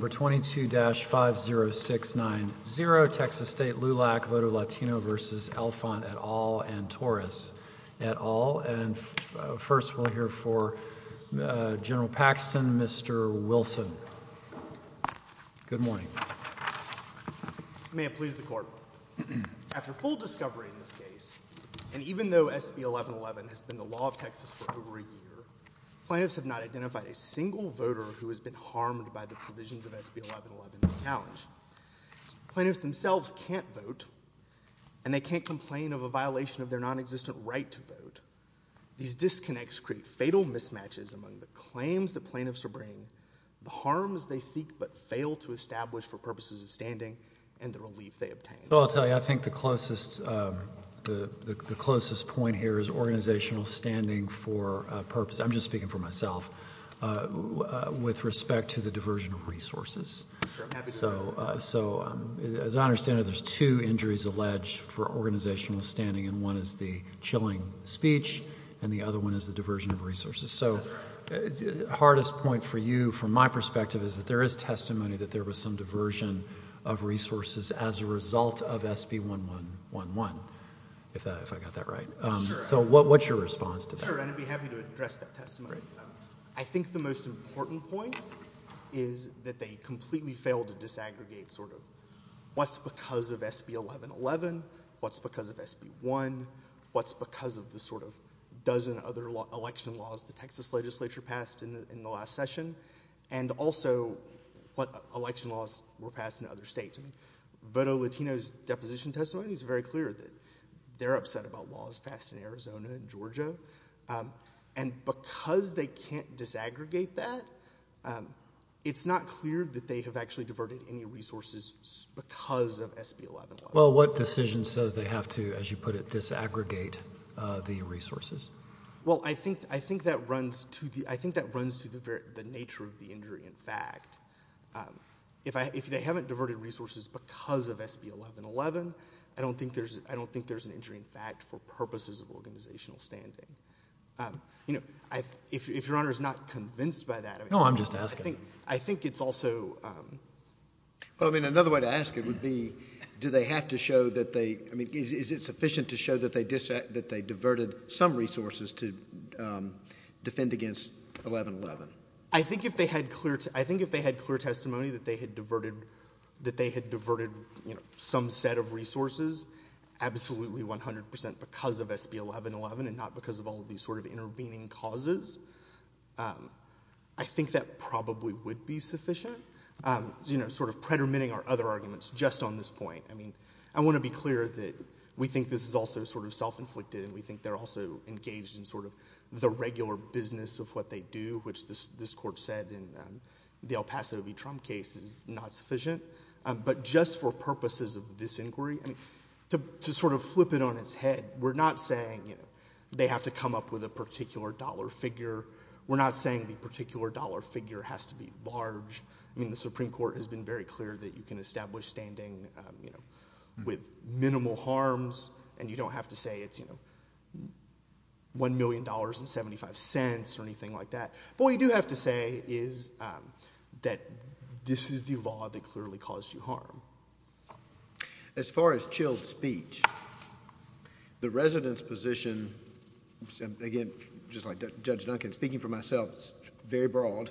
22-50690 Texas State LULAC v. Alphon, et al., and Torres, et al., and first we'll hear for General Paxton, Mr. Wilson. Good morning. May it please the Court. After full discovery in this case, and even though SB 1111 has been the law of Texas for over a year, plaintiffs have not identified a single voter who has been harmed by the provisions of SB 1111 in this challenge. Plaintiffs themselves can't vote, and they can't complain of a violation of their non-existent right to vote. These disconnects create fatal mismatches among the claims the plaintiffs are bringing, the harms they seek but fail to establish for purposes of standing, and the relief they obtain. So I'll tell you, I think the closest point here is organizational standing for a purpose, I'm just speaking for myself, with respect to the diversion of resources. So as I understand it, there's two injuries alleged for organizational standing, and one is the chilling speech, and the other one is the diversion of resources. So the hardest point for you, from my perspective, is that there is testimony that there was some diversion of resources as a result of SB 1111, if I got that right. So what's your response to that? Sure, and I'd be happy to address that testimony. I think the most important point is that they completely failed to disaggregate sort of what's because of SB 1111, what's because of SB 1, what's because of the sort of dozen other election laws the Texas legislature passed in the last session, and also what election laws were passed in other states. Voto Latino's deposition testimony is very clear that they're upset about laws passed in Arizona and Georgia. And because they can't disaggregate that, it's not clear that they have actually diverted any resources because of SB 1111. Well what decision says they have to, as you put it, disaggregate the resources? Well I think that runs to the nature of the injury in fact. If they haven't diverted resources because of SB 1111, I don't think there's an injury in fact for purposes of organizational standing. You know, if Your Honor's not convinced by that, I think it's also... No, I'm just asking. Well, I mean, another way to ask it would be, do they have to show that they, I mean, is it sufficient to show that they diverted some resources to defend against 1111? I think if they had clear testimony that they had diverted some set of resources, absolutely 100 percent because of SB 1111 and not because of all of these sort of intervening causes, I think that probably would be sufficient. You know, sort of predominating our other arguments just on this point, I mean, I want to be clear that we think this is also sort of self-inflicted and we think they're also engaged in sort of the regular business of what they do, which this Court said in the El Paso v. Trump case is not sufficient. But just for purposes of this inquiry, I mean, to sort of flip it on its head, we're not saying they have to come up with a particular dollar figure. We're not saying the particular dollar figure has to be large. I mean, the Supreme Court has been very clear that you can establish standing, you know, with minimal harms and you don't have to say it's, you know, $1,000,000.75 or anything like that. But what we do have to say is that this is the law that clearly caused you harm. As far as chilled speech, the resident's position, again, just like Judge Duncan, speaking for myself, it's very broad,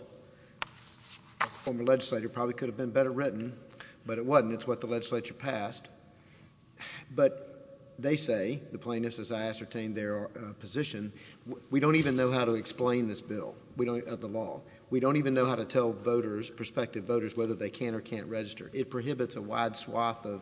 a former legislator probably could have been better written, but it wasn't. It's what the legislature passed. But they say, the plaintiffs, as I ascertained their position, we don't even know how to explain this bill. We don't have the law. We don't even know how to tell voters, prospective voters, whether they can or can't register. It prohibits a wide swath of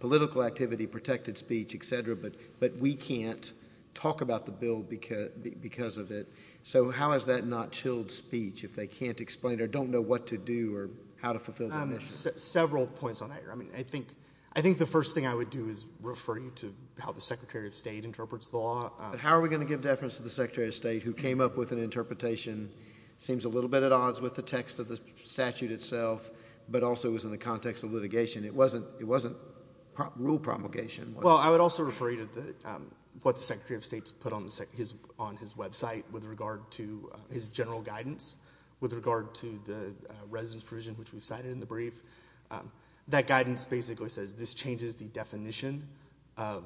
political activity, protected speech, et cetera, but we can't talk about the bill because of it. So how is that not chilled speech if they can't explain or don't know what to do or how to fulfill their mission? Several points on that. I mean, I think the first thing I would do is refer you to how the Secretary of State interprets the law. How are we going to give deference to the Secretary of State who came up with an interpretation, seems a little bit at odds with the text of the statute itself, but also is in the context of litigation? It wasn't rule promulgation. Well, I would also refer you to what the Secretary of State's put on his website with regard to his general guidance with regard to the resident's provision, which we've cited in the brief. That guidance basically says this changes the definition of,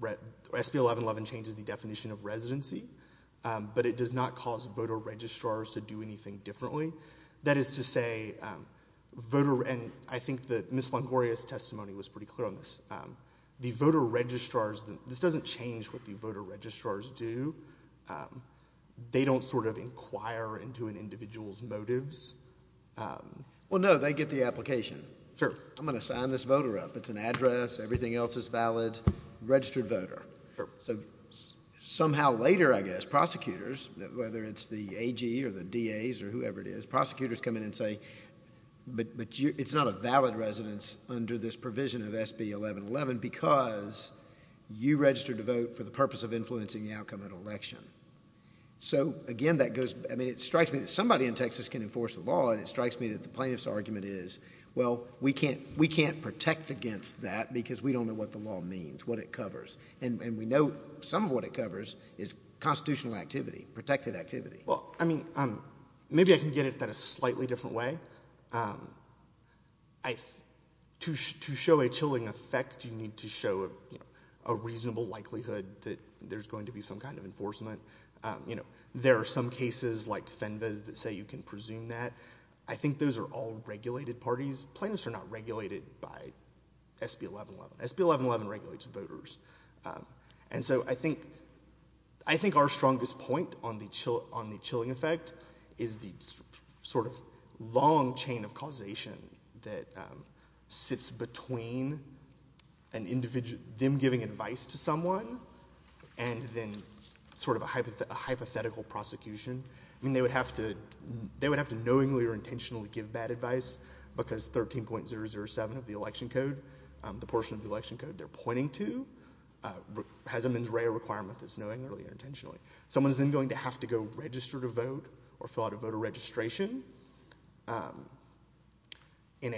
SB 1111 changes the definition of residency, but it does not cause voter registrars to do anything differently. That is to say, voter, and I think that Ms. Longoria's testimony was pretty clear on this. The voter registrars, this doesn't change what the voter registrars do. They don't sort of inquire into an individual's motives. Well, no, they get the application. Sure. I'm going to sign this voter up. It's an address. Everything else is valid. Registered voter. Sure. So somehow later, I guess, prosecutors, whether it's the AG or the DAs or whoever it is, prosecutors come in and say, but it's not a valid residence under this provision of SB 1111 because you registered to vote for the purpose of influencing the outcome at election. So again, that goes, I mean, it strikes me that somebody in Texas can enforce the law and it strikes me that the plaintiff's argument is, well, we can't, we can't protect against that because we don't know what the law means, what it covers. And we know some of what it covers is constitutional activity, protected activity. Well, I mean, maybe I can get at that a slightly different way. To show a chilling effect, you need to show a reasonable likelihood that there's going to be some kind of enforcement. You know, there are some cases like Fenves that say you can presume that. I think those are all regulated parties. Plaintiffs are not regulated by SB 1111. SB 1111 regulates voters. And so I think, I think our strongest point on the chilling effect is the sort of long chain of causation that sits between an individual, them giving advice to someone, and then sort of a hypothetical prosecution. I mean, they would have to, they would have to knowingly or intentionally give bad advice because 13.007 of the election code, the portion of the election code they're pointing to, has a mens rea requirement that's knowingly or intentionally. Someone's then going to have to go register to vote or fill out a voter registration in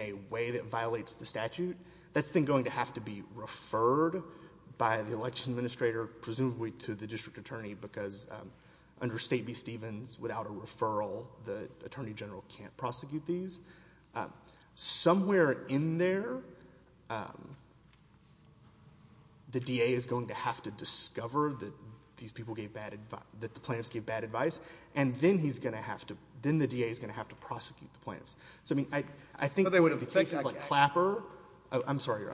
a way that violates the statute. That's then going to have to be referred by the election administrator, presumably to the district attorney, because under State v. Stevens, without a referral, the attorney general can't prosecute these. Somewhere in there, the DA is going to have to discover that these people gave bad advice, that the plaintiffs gave bad advice, and then he's going to have to, then the DA is going to have to prosecute the plaintiffs. So I mean, I think there would be cases like Clapper, I'm sorry, Your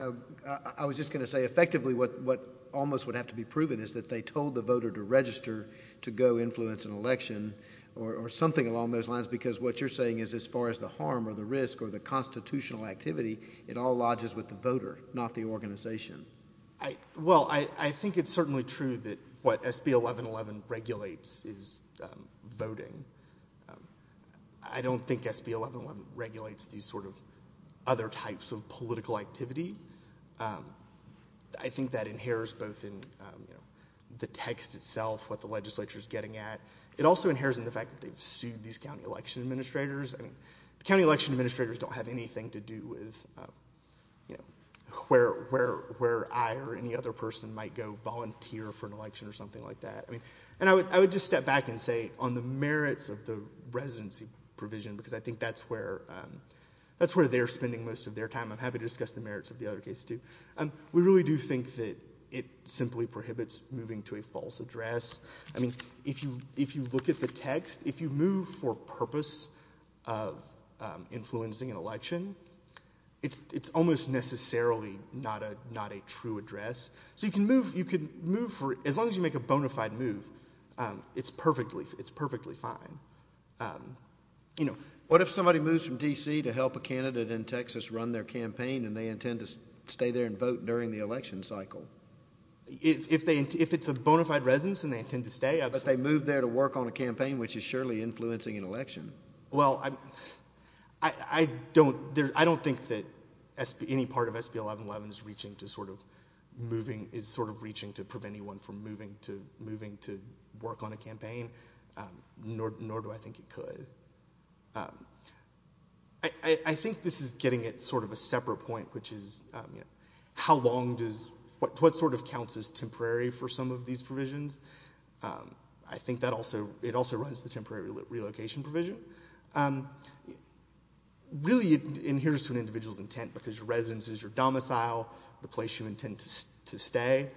Honor. I was just going to say, effectively, what almost would have to be proven is that they told the voter to register to go influence an election or something along those lines, because what you're saying is, as far as the harm or the risk or the constitutional activity, it all lodges with the voter, not the organization. Well, I think it's certainly true that what SB 1111 regulates is voting. I don't think SB 1111 regulates these sort of other types of political activity. I think that inheres both in the text itself, what the legislature's getting at. It also inheres in the fact that they've sued these county election administrators. County election administrators don't have anything to do with where I or any other person might go volunteer for an election or something like that. And I would just step back and say, on the merits of the residency provision, because I think that's where they're spending most of their time, I'm happy to discuss the merits of the other case too, we really do think that it simply prohibits moving to a false address. I mean, if you look at the text, if you move for purpose of influencing an election, it's almost necessarily not a true address. So you can move, as long as you make a bona fide move, it's perfectly fine. What if somebody moves from D.C. to help a candidate in Texas run their campaign and they intend to stay there and vote during the election cycle? If it's a bona fide residence and they intend to stay, absolutely. But they move there to work on a campaign, which is surely influencing an election. Well, I don't think that any part of SB 1111 is reaching to sort of moving, is sort of reaching to prevent anyone from moving to work on a campaign, nor do I think it could. I think this is getting at sort of a separate point, which is how long does, what sort of counts as temporary for some of these provisions? I think that also, it also runs the temporary relocation provision. Really it adheres to an individual's intent because your residence is your domicile, the place you intend to stay.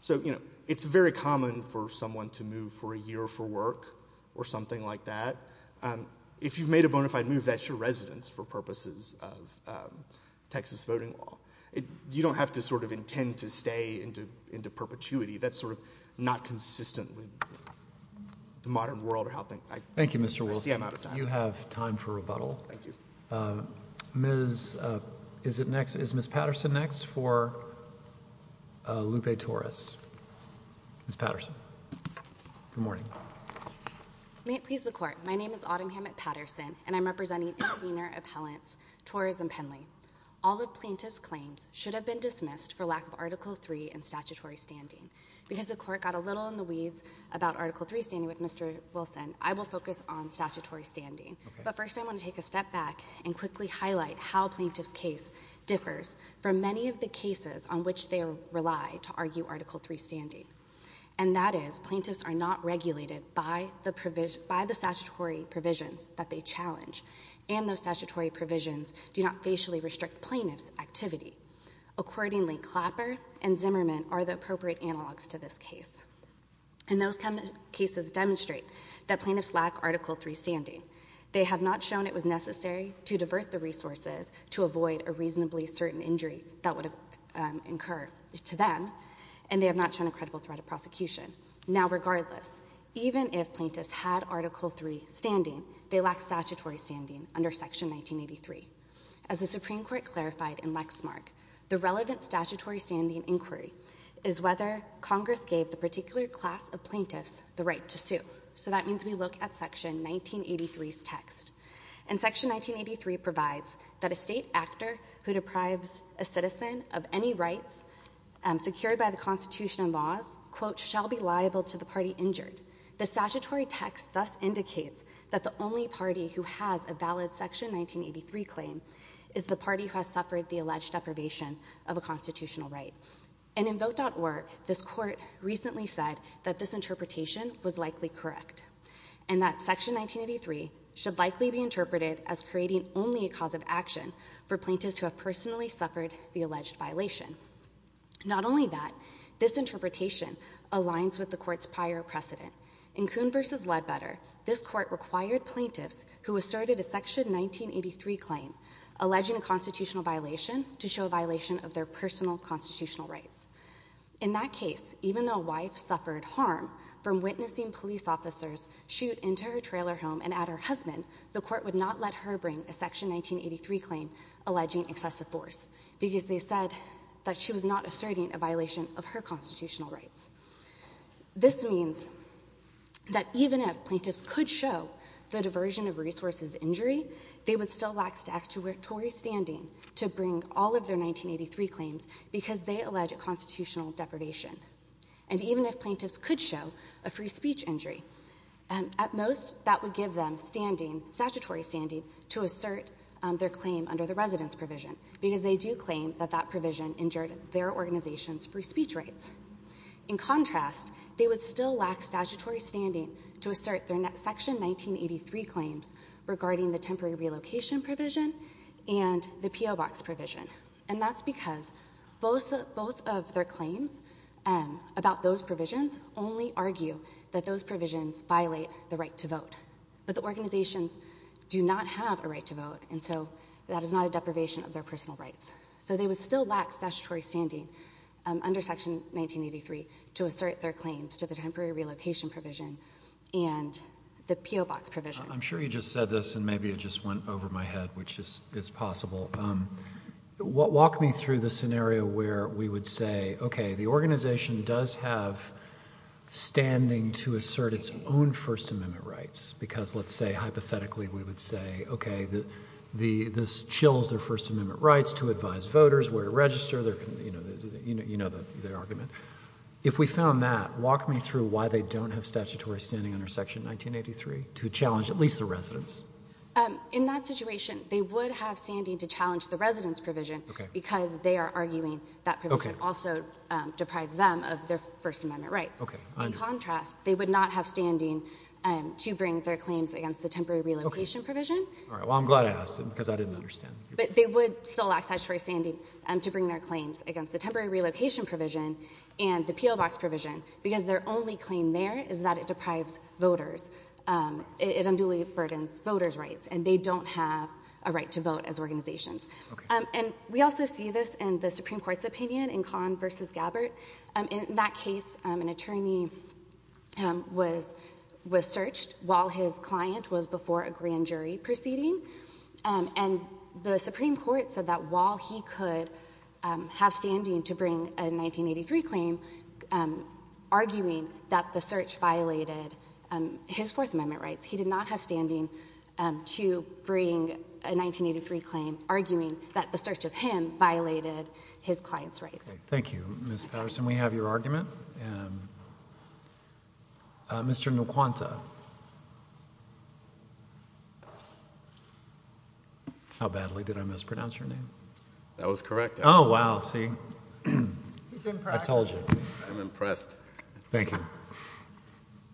So it's very common for someone to move for a year for work or something like that. If you've made a bona fide move, that's your residence for purposes of Texas voting law. You don't have to sort of intend to stay into perpetuity. That's sort of not consistent with the modern world. Thank you, Mr. Wilson. I see I'm out of time. You have time for rebuttal. Thank you. Ms., is it next, is Ms. Patterson next for Lupe Torres? Ms. Patterson, good morning. May it please the court, my name is Autumn Hammett Patterson and I'm representing intervener appellants, Torres and Penley. All the plaintiff's claims should have been dismissed for lack of Article 3 and statutory standing. Because the court got a little in the weeds about Article 3 standing with Mr. Wilson, I will focus on statutory standing. But first I want to take a step back and quickly highlight how plaintiff's case differs from many of the cases on which they rely to argue Article 3 standing. And that is, plaintiffs are not regulated by the statutory provisions that they challenge and those statutory provisions do not facially restrict plaintiff's activity. Accordingly, Clapper and Zimmerman are the appropriate analogs to this case. And those cases demonstrate that plaintiffs lack Article 3 standing. They have not shown it was necessary to divert the resources to avoid a reasonably certain injury that would incur to them and they have not shown a credible threat of prosecution. Now regardless, even if plaintiffs had Article 3 standing, they lack statutory standing under Section 1983. As the Supreme Court clarified in Lexmark, the relevant statutory standing inquiry is whether Congress gave the particular class of plaintiffs the right to sue. So that means we look at Section 1983's text. And Section 1983 provides that a state actor who deprives a citizen of any rights secured by the Constitution and laws, quote, shall be liable to the party injured. The statutory text thus indicates that the only party who has a valid Section 1983 claim is the party who has suffered the alleged deprivation of a constitutional right. And in Vote.org, this Court recently said that this interpretation was likely correct and that Section 1983 should likely be interpreted as creating only a cause of action for plaintiffs who have personally suffered the alleged violation. Not only that, this interpretation aligns with the Court's prior precedent. In Coon v. Ledbetter, this Court required plaintiffs who asserted a Section 1983 claim alleging a constitutional violation to show a violation of their personal constitutional rights. In that case, even though a wife suffered harm from witnessing police officers shoot into her trailer home and at her husband, the Court would not let her bring a Section 1983 claim alleging excessive force because they said that she was not asserting a violation of her constitutional rights. This means that even if plaintiffs could show the diversion of resources injury, they would still lack statutory standing to bring all of their 1983 claims because they allege a constitutional deprivation. And even if plaintiffs could show a free speech injury, at most that would give them standing, statutory standing to assert their claim under the residence provision because they do claim that that provision injured their organization's free speech rights. In contrast, they would still lack statutory standing to assert their Section 1983 claims regarding the temporary relocation provision and the P.O. Box provision. And that's because both of their claims about those provisions only argue that those provisions violate the right to vote. But the organizations do not have a right to vote, and so that is not a deprivation of their personal rights. So they would still lack statutory standing under Section 1983 to assert their claims to the temporary relocation provision and the P.O. Box provision. I'm sure you just said this, and maybe it just went over my head, which is possible. Walk me through the scenario where we would say, okay, the organization does have standing to assert its own First Amendment rights because, let's say, hypothetically we would say, okay, this chills their First Amendment rights to advise voters where to register. You know the argument. If we found that, walk me through why they don't have statutory standing under Section 1983 to challenge at least the residence. In that situation, they would have standing to challenge the residence provision because they are arguing that provision also deprived them of their First Amendment rights. Okay. I understand. In contrast, they would not have standing to bring their claims against the temporary relocation provision. All right. Well, I'm glad I asked because I didn't understand. But they would still lack statutory standing to bring their claims against the temporary relocation provision and the P.O. Box provision because their only claim there is that it deprives voters. It unduly burdens voters' rights, and they don't have a right to vote as organizations. Okay. And we also see this in the Supreme Court's opinion in Kahn v. Gabbard. In that case, an attorney was searched while his client was before a grand jury proceeding, and the Supreme Court said that while he could have standing to bring a 1983 claim, arguing that the search violated his Fourth Amendment rights, he did not have standing to bring a 1983 claim arguing that the search of him violated his client's rights. Thank you. Thank you. Mr. Nkwanta. How badly did I mispronounce your name? That was correct. Oh, wow. See? He's impressed. I told you. I'm impressed. Thank you.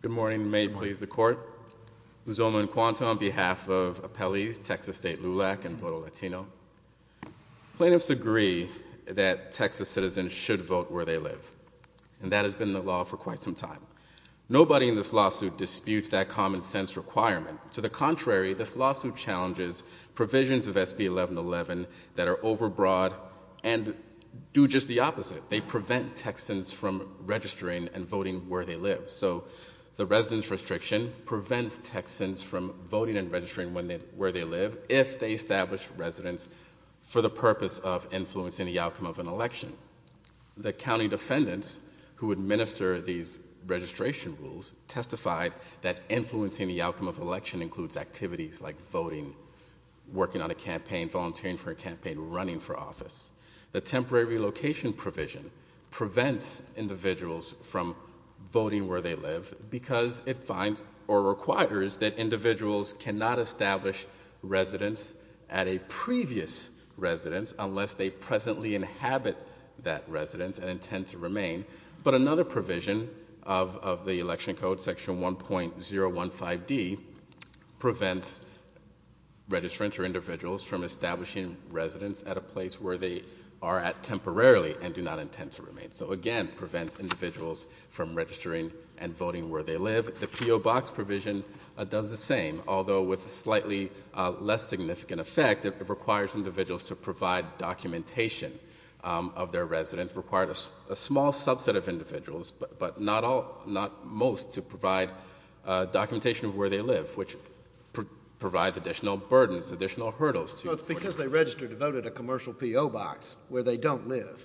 Good morning and may it please the Court. I'm Zoma Nkwanta on behalf of Appellees Texas State LULAC and Voto Latino. Plaintiffs agree that Texas citizens should vote where they live, and that has been the law for quite some time. Nobody in this lawsuit disputes that common-sense requirement. To the contrary, this lawsuit challenges provisions of SB 1111 that are overbroad and do just the opposite. They prevent Texans from registering and voting where they live. So the residence restriction prevents Texans from voting and registering where they live if they establish residence for the purpose of influencing the outcome of an election. The county defendants who administer these registration rules testified that influencing the outcome of an election includes activities like voting, working on a campaign, volunteering for a campaign, running for office. The temporary relocation provision prevents individuals from voting where they live because it finds or requires that individuals cannot establish residence at a previous residence unless they presently inhabit that residence and intend to remain. But another provision of the Election Code, Section 1.015D, prevents registrants or individuals from establishing residence at a place where they are at temporarily and do not intend to remain. So, again, it prevents individuals from registering and voting where they live. The PO Box provision does the same, although with a slightly less significant effect. It requires individuals to provide documentation of their residence. It requires a small subset of individuals, but not most, to provide documentation of where they live, which provides additional burdens, additional hurdles. So it's because they registered and voted a commercial PO Box where they don't live.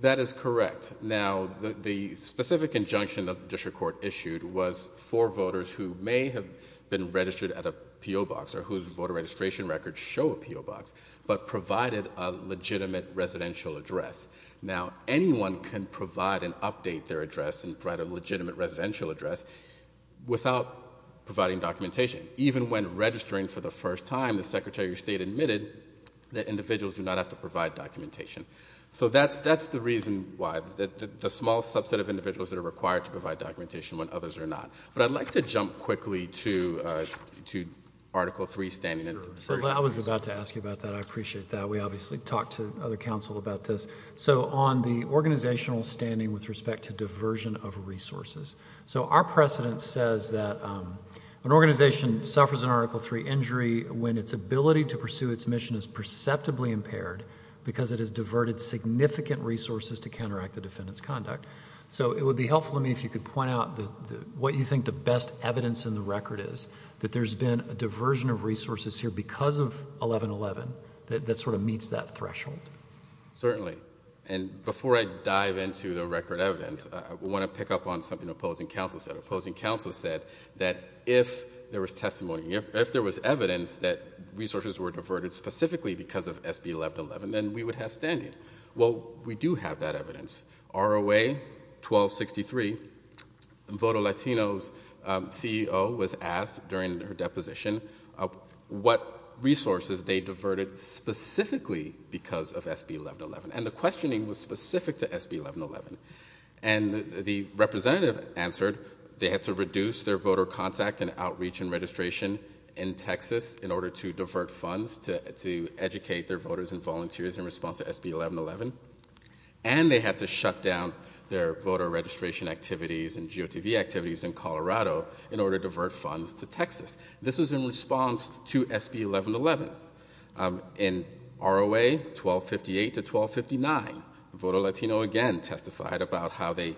That is correct. Now, the specific injunction that the district court issued was for voters who may have been registered at a PO Box or whose voter registration records show a PO Box, but provided a legitimate residential address. Now, anyone can provide and update their address and provide a legitimate residential address without providing documentation. Even when registering for the first time, the Secretary of State admitted that individuals do not have to provide documentation. So that's the reason why, the small subset of individuals that are required to provide documentation when others are not. But I'd like to jump quickly to Article 3, Standing and Persons. I was about to ask you about that. I appreciate that. We obviously talked to other counsel about this. So on the organizational standing with respect to diversion of resources. So our precedent says that an organization suffers an Article 3 injury when its ability to pursue its mission is perceptibly impaired because it has diverted significant resources to counteract the defendant's conduct. So it would be helpful to me if you could point out what you think the best evidence in the record is, that there's been a diversion of resources here because of 1111 that sort of meets that threshold. Certainly. And before I dive into the record evidence, I want to pick up on something the opposing counsel said. Opposing counsel said that if there was testimony, if there was evidence that resources were diverted specifically because of SB 1111, then we would have standing. Well, we do have that evidence. ROA 1263, Voto Latino's CEO was asked during her deposition what resources they diverted specifically because of SB 1111. And the questioning was specific to SB 1111. And the representative answered they had to reduce their voter contact and outreach and registration in Texas in order to divert funds to educate their voters and volunteers in response to SB 1111. And they had to shut down their voter registration activities and GOTV activities in Colorado in order to divert funds to Texas. This was in response to SB 1111. In ROA 1258 to 1259, Voto Latino again testified about how they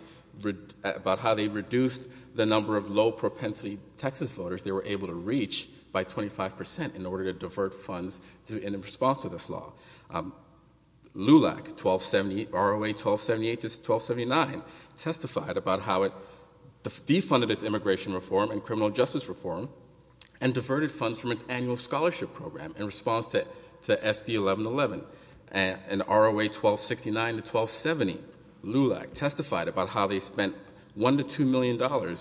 reduced the number of low propensity Texas voters they were able to reach by 25 percent in order to divert funds in response to this law. LULAC 1270, ROA 1278 to 1279 testified about how it defunded its immigration reform and criminal justice reform and diverted funds from its annual scholarship program in response to SB 1111. And ROA 1269 to 1270, LULAC testified about how they spent $1 to $2 million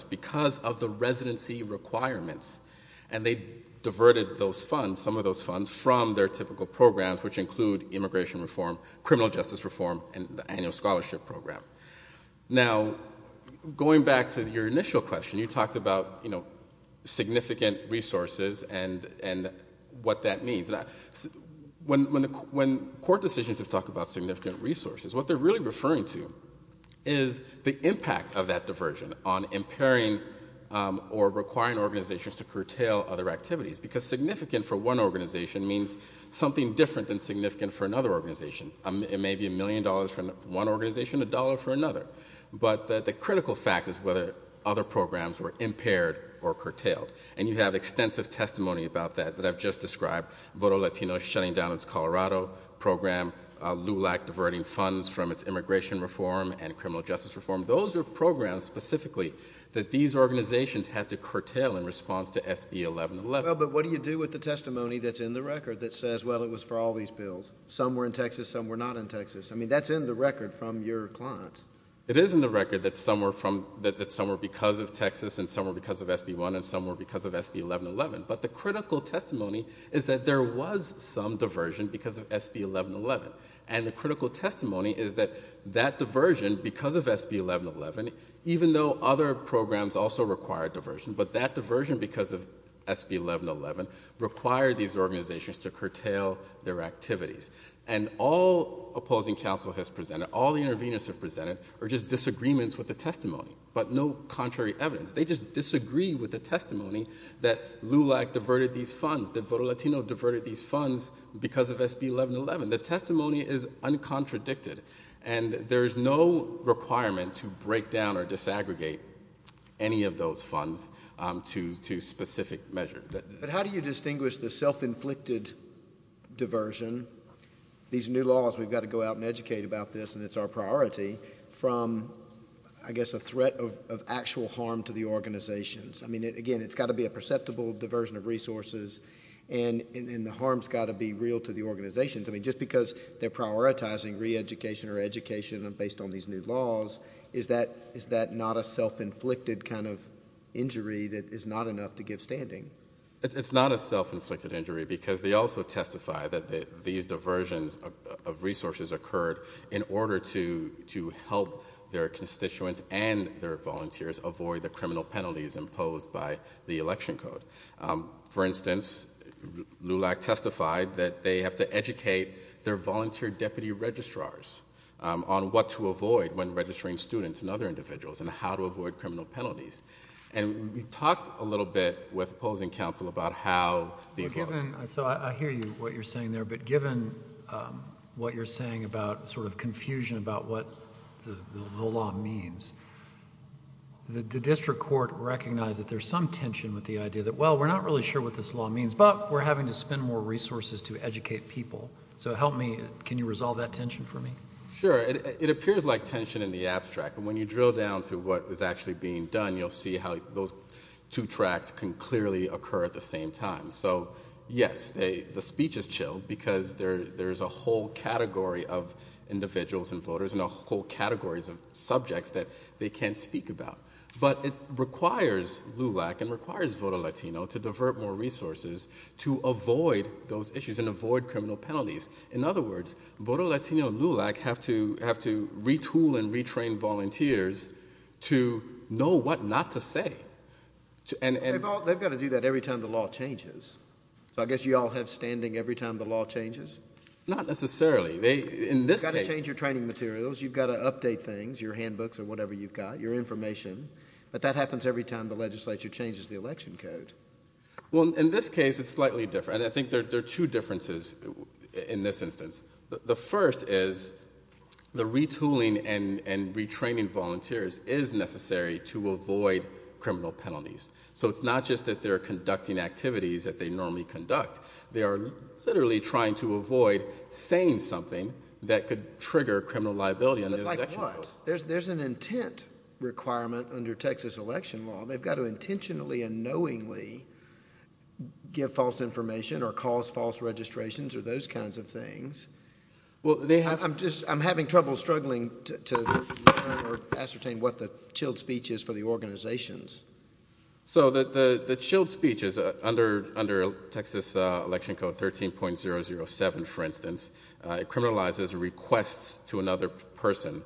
because of the residency requirements. And they diverted those funds, some of those funds, from their typical programs which include immigration reform, criminal justice reform, and the annual scholarship program. Now, going back to your initial question, you talked about significant resources and what that means. When court decisions talk about significant resources, what they're really referring to is the impact of that diversion on impairing or requiring organizations to curtail other activities. Because significant for one organization means something different than significant for another organization. It may be a million dollars for one organization, a dollar for another. But the critical fact is whether other programs were impaired or curtailed. And you have extensive testimony about that that I've just described, Voto Latino shutting down its Colorado program, LULAC diverting funds from its immigration reform and criminal justice reform. Those are programs specifically that these organizations had to curtail in response to SB 1111. But what do you do with the testimony that's in the record that says, well, it was for all these bills? Some were in Texas. Some were not in Texas. I mean, that's in the record from your clients. It is in the record that some were because of Texas and some were because of SB 1 and some were because of SB 1111. But the critical testimony is that there was some diversion because of SB 1111. And the critical testimony is that that diversion because of SB 1111, even though other programs also required diversion, but that diversion because of SB 1111 required these organizations to curtail their activities. And all opposing counsel has presented, all the interveners have presented are just disagreements with the testimony, but no contrary evidence. They just disagree with the testimony that LULAC diverted these funds, that Voto Latino diverted these funds because of SB 1111. The testimony is uncontradicted. And there is no requirement to break down or disaggregate any of those funds to specific measures. But how do you distinguish the self-inflicted diversion, these new laws, we've got to go out and educate about this and it's our priority, from, I guess, a threat of actual harm to the organizations? I mean, again, it's got to be a perceptible diversion of resources and the harm's got to be real to the organizations. I mean, just because they're prioritizing re-education or education based on these new laws, is that not a self-inflicted kind of injury that is not enough to give standing? It's not a self-inflicted injury because they also testify that these diversions of resources occurred in order to help their constituents and their volunteers avoid the criminal penalties imposed by the election code. For instance, LULAC testified that they have to educate their volunteer deputy registrars on what to avoid when registering students and other individuals and how to avoid criminal penalties. And we talked a little bit with opposing counsel about how these laws. So I hear you, what you're saying there. But given what you're saying about sort of confusion about what the law means, the district court recognized that there's some tension with the idea that, well, we're not really sure what this law means, but we're having to spend more resources to educate people. So help me, can you resolve that tension for me? Sure. It appears like tension in the abstract. And when you drill down to what is actually being done, you'll see how those two tracks can clearly occur at the same time. So, yes, the speech is chilled because there's a whole category of individuals and voters and a whole category of subjects that they can't speak about. But it requires LULAC and requires Voto Latino to divert more resources to avoid those issues and avoid criminal penalties. In other words, Voto Latino and LULAC have to retool and retrain volunteers to know what not to say. They've got to do that every time the law changes. So I guess you all have standing every time the law changes? Not necessarily. You've got to change your training materials. You've got to update things, your handbooks or whatever you've got, your information. But that happens every time the legislature changes the election code. Well, in this case it's slightly different. I think there are two differences in this instance. The first is the retooling and retraining volunteers is necessary to avoid criminal penalties. So it's not just that they're conducting activities that they normally conduct. They are literally trying to avoid saying something that could trigger criminal liability. But like what? There's an intent requirement under Texas election law. They've got to intentionally and knowingly give false information or cause false registrations or those kinds of things. I'm having trouble struggling to ascertain what the chilled speech is for the organizations. So the chilled speech is under Texas election code 13.007, for instance. It criminalizes a request to another person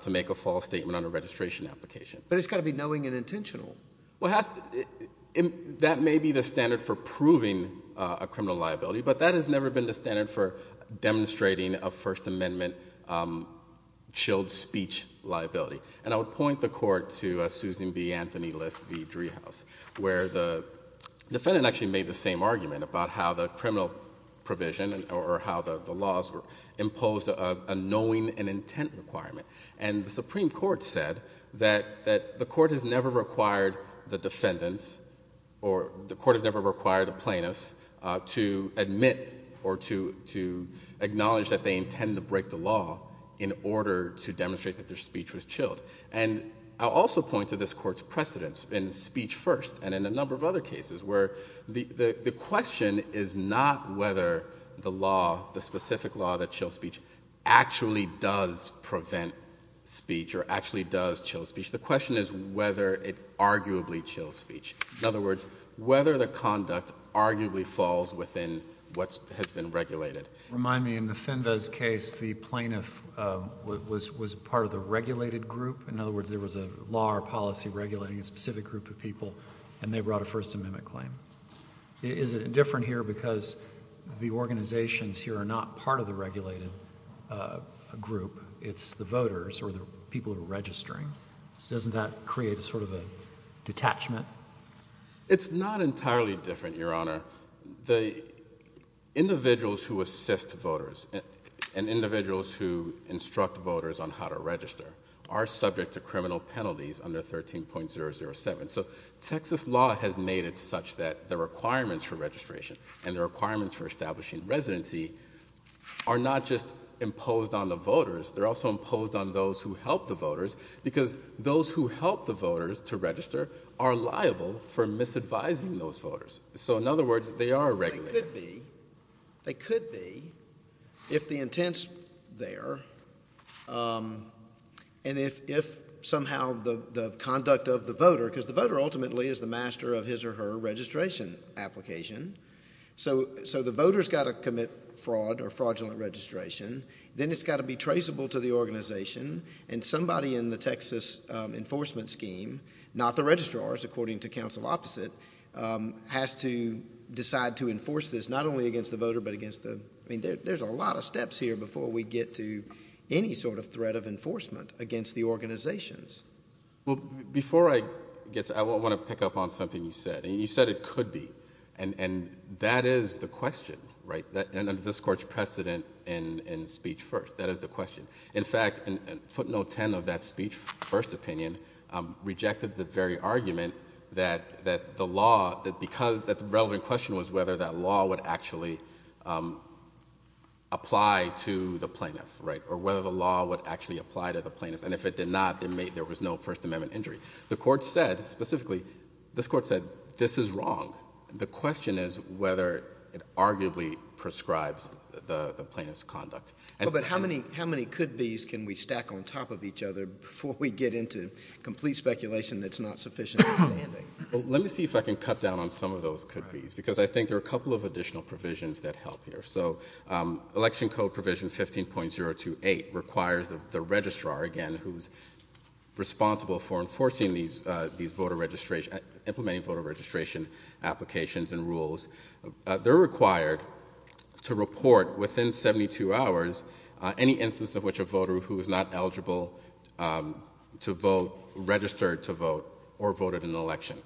to make a false statement on a registration application. But it's got to be knowing and intentional. Well, that may be the standard for proving a criminal liability, but that has never been the standard for demonstrating a First Amendment chilled speech liability. And I would point the court to Susan B. Anthony List v. Driehaus, where the defendant actually made the same argument about how the criminal provision or how the laws were imposed a knowing and intent requirement. And the Supreme Court said that the court has never required the defendants or the court has never required the plaintiffs to admit or to acknowledge that they intend to break the law in order to demonstrate that their speech was chilled. And I'll also point to this Court's precedence in Speech First and in a number of other cases where the question is not whether the law, the specific law that chills speech, actually does prevent speech or actually does chill speech. The question is whether it arguably chills speech. In other words, whether the conduct arguably falls within what has been regulated. Remind me, in the Fenves case, the plaintiff was part of the regulated group. In other words, there was a law or policy regulating a specific group of people, and they brought a First Amendment claim. Is it different here because the organizations here are not part of the regulated group? It's the voters or the people who are registering. Doesn't that create a sort of a detachment? It's not entirely different, Your Honor. The individuals who assist voters and individuals who instruct voters on how to register are subject to criminal penalties under 13.007. So Texas law has made it such that the requirements for registration and the requirements for establishing residency are not just imposed on the voters. They're also imposed on those who help the voters because those who help the voters to register are liable for misadvising those voters. So, in other words, they are regulated. They could be if the intent's there and if somehow the conduct of the voter, because the voter ultimately is the master of his or her registration application. So the voter's got to commit fraud or fraudulent registration. Then it's got to be traceable to the organization, and somebody in the Texas enforcement scheme, not the registrars, according to counsel opposite, has to decide to enforce this not only against the voter but against the... I mean, there's a lot of steps here before we get to any sort of threat of enforcement against the organizations. Well, before I get to that, I want to pick up on something you said. You said it could be, and that is the question, right, under this Court's precedent in speech first. That is the question. In fact, footnote 10 of that speech, first opinion, rejected the very argument that the law, because the relevant question was whether that law would actually apply to the plaintiff, right, or whether the law would actually apply to the plaintiff. And if it did not, there was no First Amendment injury. The Court said specifically, this Court said this is wrong. The question is whether it arguably prescribes the plaintiff's conduct. But how many could-bes can we stack on top of each other before we get into complete speculation that's not sufficient? Well, let me see if I can cut down on some of those could-bes, because I think there are a couple of additional provisions that help here. So Election Code Provision 15.028 requires the registrar, again, who's responsible for enforcing these voter registration, implementing voter registration applications and rules. They're required to report within 72 hours any instance of which a voter who is not eligible to vote registered to vote or voted in an election.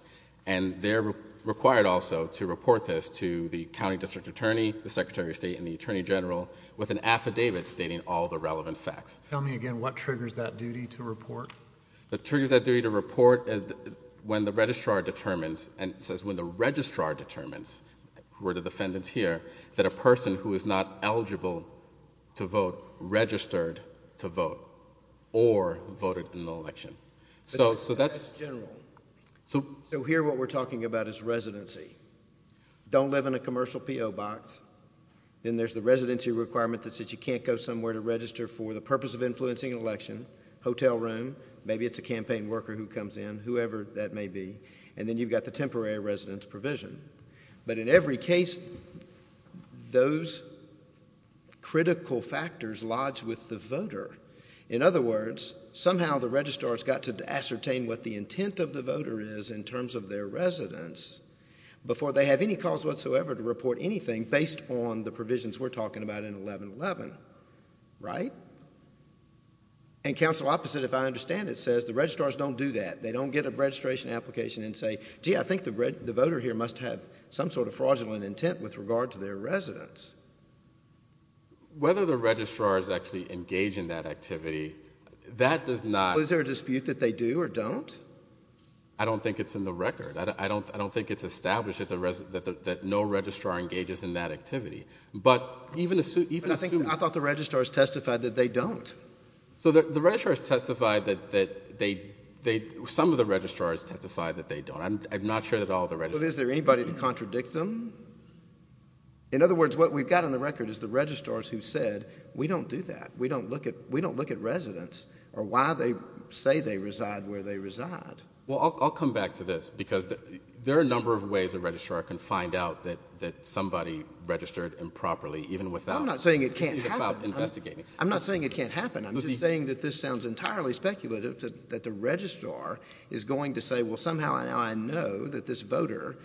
And they're required also to report this to the county district attorney, the secretary of state, and the attorney general with an affidavit stating all the relevant facts. Tell me again, what triggers that duty to report? What triggers that duty to report is when the registrar determines, and it says when the registrar determines, the word of the defendants here, that a person who is not eligible to vote registered to vote or voted in an election. But that's general. So here what we're talking about is residency. Don't live in a commercial P.O. box. Then there's the residency requirement that says you can't go somewhere to register for the purpose of influencing an election, hotel room, maybe it's a campaign worker who comes in, whoever that may be, and then you've got the temporary residence provision. But in every case, those critical factors lodge with the voter. In other words, somehow the registrar's got to ascertain what the intent of the voter is in terms of their residence before they have any cause whatsoever to report anything based on the provisions we're talking about in 1111. Right? And council opposite, if I understand it, says the registrars don't do that. They don't get a registration application and say, gee, I think the voter here must have some sort of fraudulent intent with regard to their residence. Whether the registrar is actually engaged in that activity, that does not. Is there a dispute that they do or don't? I don't think it's in the record. I don't think it's established that no registrar engages in that activity. But even assuming that. I thought the registrars testified that they don't. So the registrars testified that they, some of the registrars testified that they don't. I'm not sure that all the registrars. Is there anybody to contradict them? In other words, what we've got on the record is the registrars who said, we don't do that. We don't look at residents or why they say they reside where they reside. Well, I'll come back to this. Because there are a number of ways a registrar can find out that somebody registered improperly, even without investigating. I'm not saying it can't happen. I'm not saying it can't happen. I'm just saying that this sounds entirely speculative that the registrar is going to say, well, somehow now I know that this voter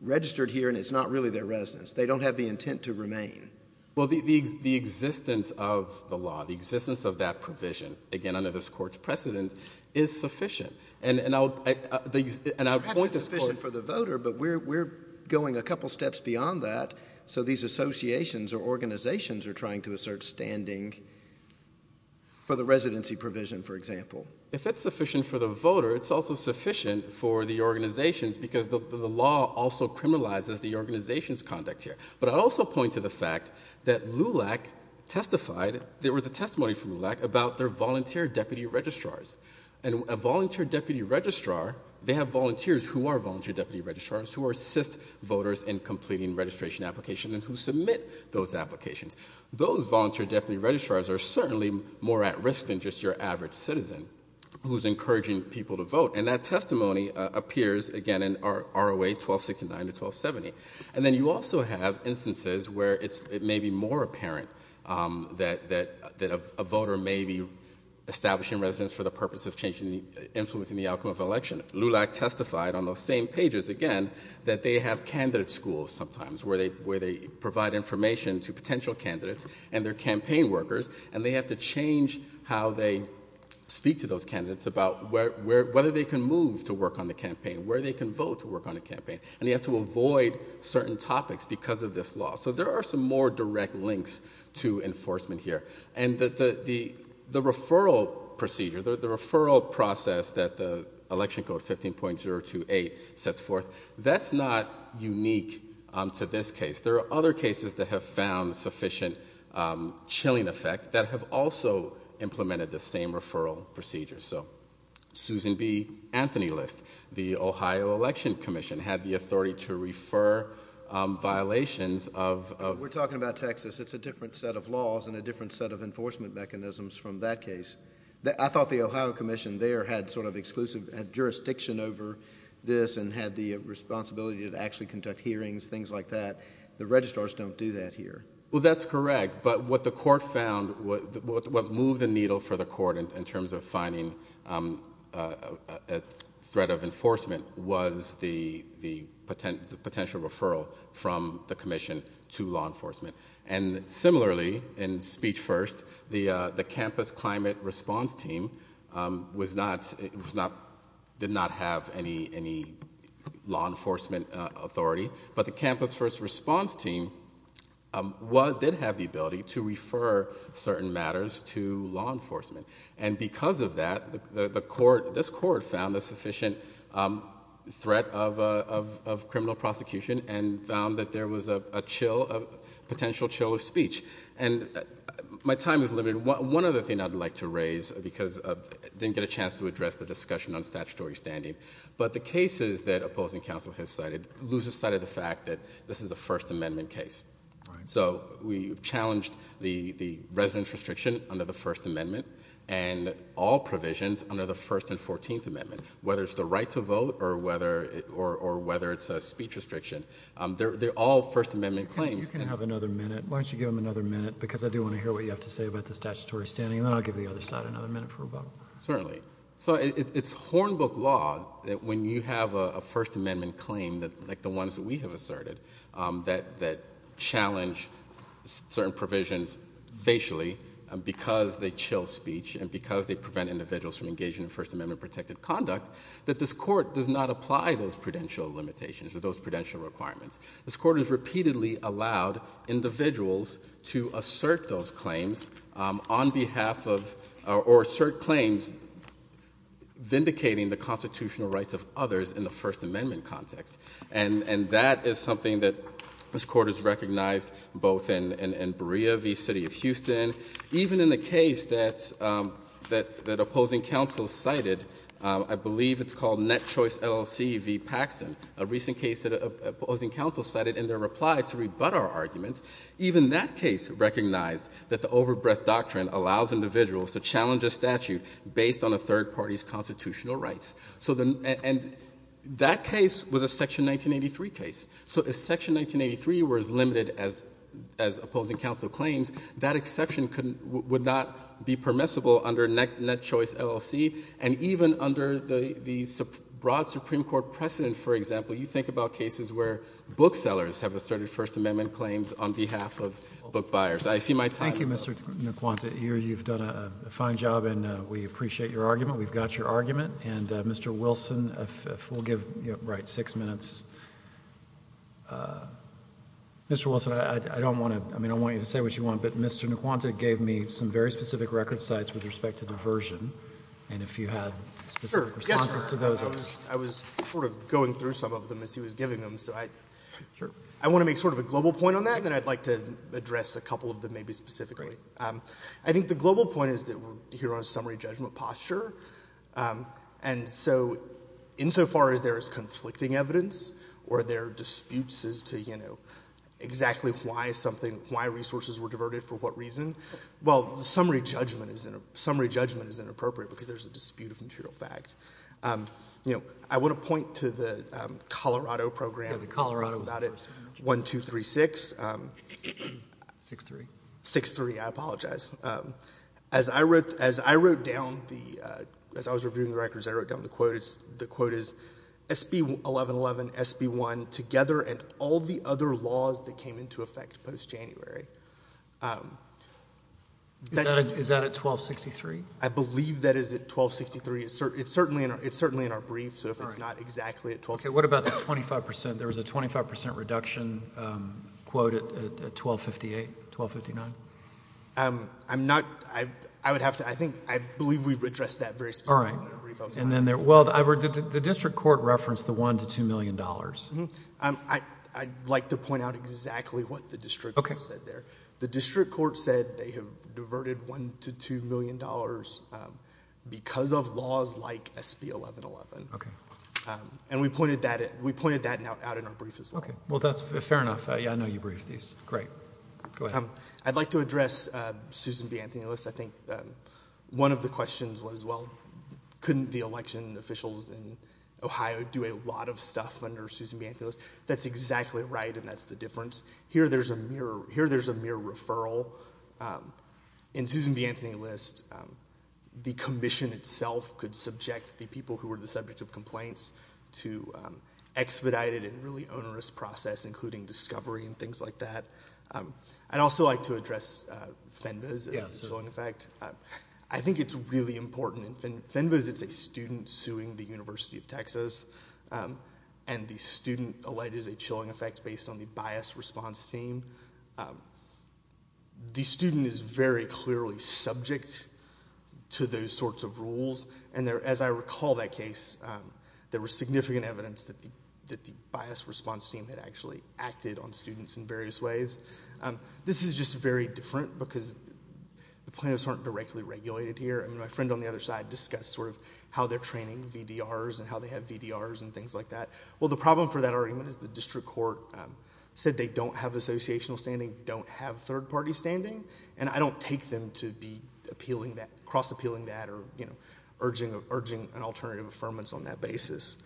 registered here and it's not really their residence. They don't have the intent to remain. Well, the existence of the law, the existence of that provision, again, under this Court's precedent, is sufficient. And I'll point to this Court. Perhaps it's sufficient for the voter, but we're going a couple steps beyond that. So these associations or organizations are trying to assert standing for the residency provision, for example. If that's sufficient for the voter, it's also sufficient for the organizations because the law also criminalizes the organization's conduct here. But I'll also point to the fact that LULAC testified, there was a testimony from LULAC about their volunteer deputy registrars. And a volunteer deputy registrar, they have volunteers who are volunteer deputy registrars who assist voters in completing registration applications and who submit those applications. Those volunteer deputy registrars are certainly more at risk than just your average citizen who's encouraging people to vote. And that testimony appears, again, in ROA 1269 to 1270. And then you also have instances where it may be more apparent that a voter may be establishing residence for the purpose of influencing the outcome of an election. LULAC testified on those same pages, again, that they have candidate schools sometimes where they provide information to potential candidates and their campaign workers, and they have to change how they speak to those candidates about whether they can move to work on the campaign, where they can vote to work on the campaign, and they have to avoid certain topics because of this law. So there are some more direct links to enforcement here. And the referral procedure, the referral process that the Election Code 15.028 sets forth, that's not unique to this case. There are other cases that have found sufficient chilling effect that have also implemented the same referral procedure. So Susan B. Anthony List, the Ohio Election Commission, had the authority to refer violations of- We're talking about Texas. It's a different set of laws and a different set of enforcement mechanisms from that case. I thought the Ohio Commission there had sort of exclusive jurisdiction over this and had the responsibility to actually conduct hearings, things like that. The registrars don't do that here. Well, that's correct. But what the court found, what moved the needle for the court in terms of finding a threat of enforcement was the potential referral from the commission to law enforcement. And similarly, in Speech First, the campus climate response team did not have any law enforcement authority, but the campus first response team did have the ability to refer certain matters to law enforcement. And because of that, this court found a sufficient threat of criminal prosecution and found that there was a potential chill of speech. And my time is limited. One other thing I'd like to raise because I didn't get a chance to address the discussion on statutory standing, but the cases that opposing counsel has cited lose sight of the fact that this is a First Amendment case. So we've challenged the residence restriction under the First Amendment and all provisions under the First and Fourteenth Amendment, whether it's the right to vote or whether it's a speech restriction. They're all First Amendment claims. You can have another minute. Why don't you give them another minute because I do want to hear what you have to say about the statutory standing, and then I'll give the other side another minute for a vote. Certainly. So it's hornbook law that when you have a First Amendment claim like the ones that we have asserted that challenge certain provisions facially because they chill speech and because they prevent individuals from engaging in First Amendment protected conduct, that this court does not apply those prudential limitations or those prudential requirements. This court has repeatedly allowed individuals to assert those claims on behalf of or assert claims vindicating the constitutional rights of others in the First Amendment context. And that is something that this Court has recognized both in Berea v. City of Houston, even in the case that opposing counsel cited. I believe it's called Net Choice LLC v. Paxton, a recent case that opposing counsel cited in their reply to rebut our arguments. Even that case recognized that the overbreadth doctrine allows individuals to challenge a statute based on a third party's constitutional rights. And that case was a Section 1983 case. So if Section 1983 were as limited as opposing counsel claims, that exception would not be permissible under Net Choice LLC. And even under the broad Supreme Court precedent, for example, you think about cases where booksellers have asserted First Amendment claims on behalf of bookbuyers. I see my time is up. Thank you, Mr. Naquanta. You've done a fine job, and we appreciate your argument. We've got your argument. And, Mr. Wilson, if we'll give Wright six minutes. Mr. Wilson, I don't want to – I mean, I don't want you to say what you want, but Mr. Naquanta gave me some very specific record cites with respect to diversion. And if you had specific responses to those. I was sort of going through some of them as he was giving them. So I want to make sort of a global point on that, and then I'd like to address a couple of them maybe specifically. I think the global point is that we're here on a summary judgment posture. And so insofar as there is conflicting evidence or there are disputes as to, you know, exactly why something – why resources were diverted for what reason, well, the summary judgment is inappropriate because there's a dispute of material fact. You know, I want to point to the Colorado program. Yeah, the Colorado was the first one. One, two, three, six. Six, three. Six, three. I apologize. As I wrote down the – as I was reviewing the records, I wrote down the quotas. SB-1111, SB-1 together, and all the other laws that came into effect post-January. Is that at 1263? I believe that is at 1263. It's certainly in our brief, so if it's not exactly at 1263. Okay, what about the 25%? There was a 25% reduction quote at 1258, 1259. I'm not – I would have to – I think – I believe we've addressed that very specifically. All right. Well, the district court referenced the $1 million to $2 million. I'd like to point out exactly what the district court said there. The district court said they have diverted $1 million to $2 million because of laws like SB-1111. Okay. And we pointed that out in our brief as well. Okay. Well, that's fair enough. Yeah, I know you briefed these. Great. Go ahead. I'd like to address Susan B. Anthony. I think one of the questions was, well, couldn't the election officials in Ohio do a lot of stuff under Susan B. Anthony? That's exactly right, and that's the difference. Here there's a mere referral. In Susan B. Anthony's list, the commission itself could subject the people who were the subject of complaints to expedited and really onerous process, including discovery and things like that. I'd also like to address FENVAS as a chilling effect. I think it's really important. FENVAS, it's a student suing the University of Texas, and the student alleged a chilling effect based on the biased response team. The student is very clearly subject to those sorts of rules, and as I recall that case, there was significant evidence that the biased response team had actually acted on students in various ways. This is just very different because the plaintiffs aren't directly regulated here. My friend on the other side discussed how they're training VDRs and how they have VDRs and things like that. Well, the problem for that argument is the district court said they don't have associational standing, don't have third-party standing, and I don't take them to be cross-appealing that or urging an alternative affirmance on that basis.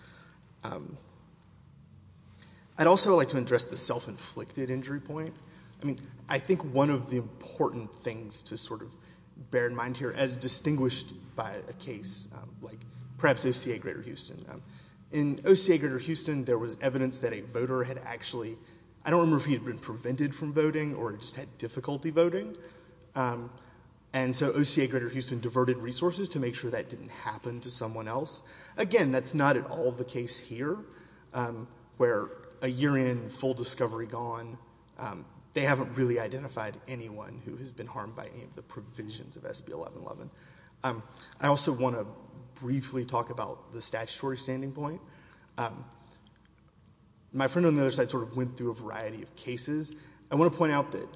I'd also like to address the self-inflicted injury point. I mean, I think one of the important things to sort of bear in mind here, as distinguished by a case like perhaps OCA Greater Houston. In OCA Greater Houston, there was evidence that a voter had actually, I don't remember if he had been prevented from voting or just had difficulty voting, and so OCA Greater Houston diverted resources to make sure that didn't happen to someone else. Again, that's not at all the case here where a year in, full discovery gone. They haven't really identified anyone who has been harmed by any of the provisions of SB 1111. I also want to briefly talk about the statutory standing point. My friend on the other side sort of went through a variety of cases. I want to point out that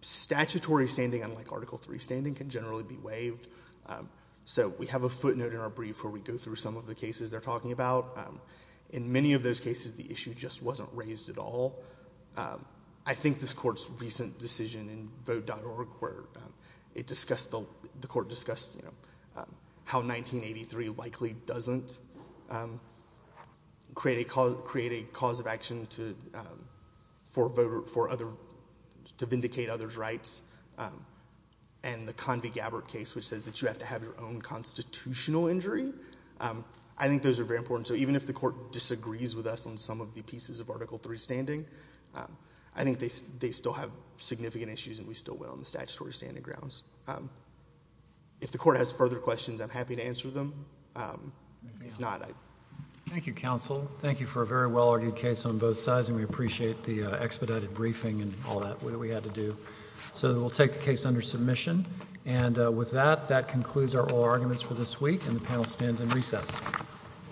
statutory standing, unlike Article III standing, can generally be waived. So we have a footnote in our brief where we go through some of the cases they're talking about. In many of those cases, the issue just wasn't raised at all. I think this Court's recent decision in Vote.org where it discussed, the Court discussed how 1983 likely doesn't create a cause of action to vindicate others' rights, and the Convy-Gabbard case which says that you have to have your own constitutional injury. I think those are very important. So even if the Court disagrees with us on some of the pieces of Article III standing, I think they still have significant issues and we still went on the statutory standing grounds. If the Court has further questions, I'm happy to answer them. If not, I... Thank you, Counsel. Thank you for a very well-argued case on both sides, and we appreciate the expedited briefing and all that we had to do. So we'll take the case under submission. And with that, that concludes our oral arguments for this week, and the panel stands in recess. Thank you. Thank you.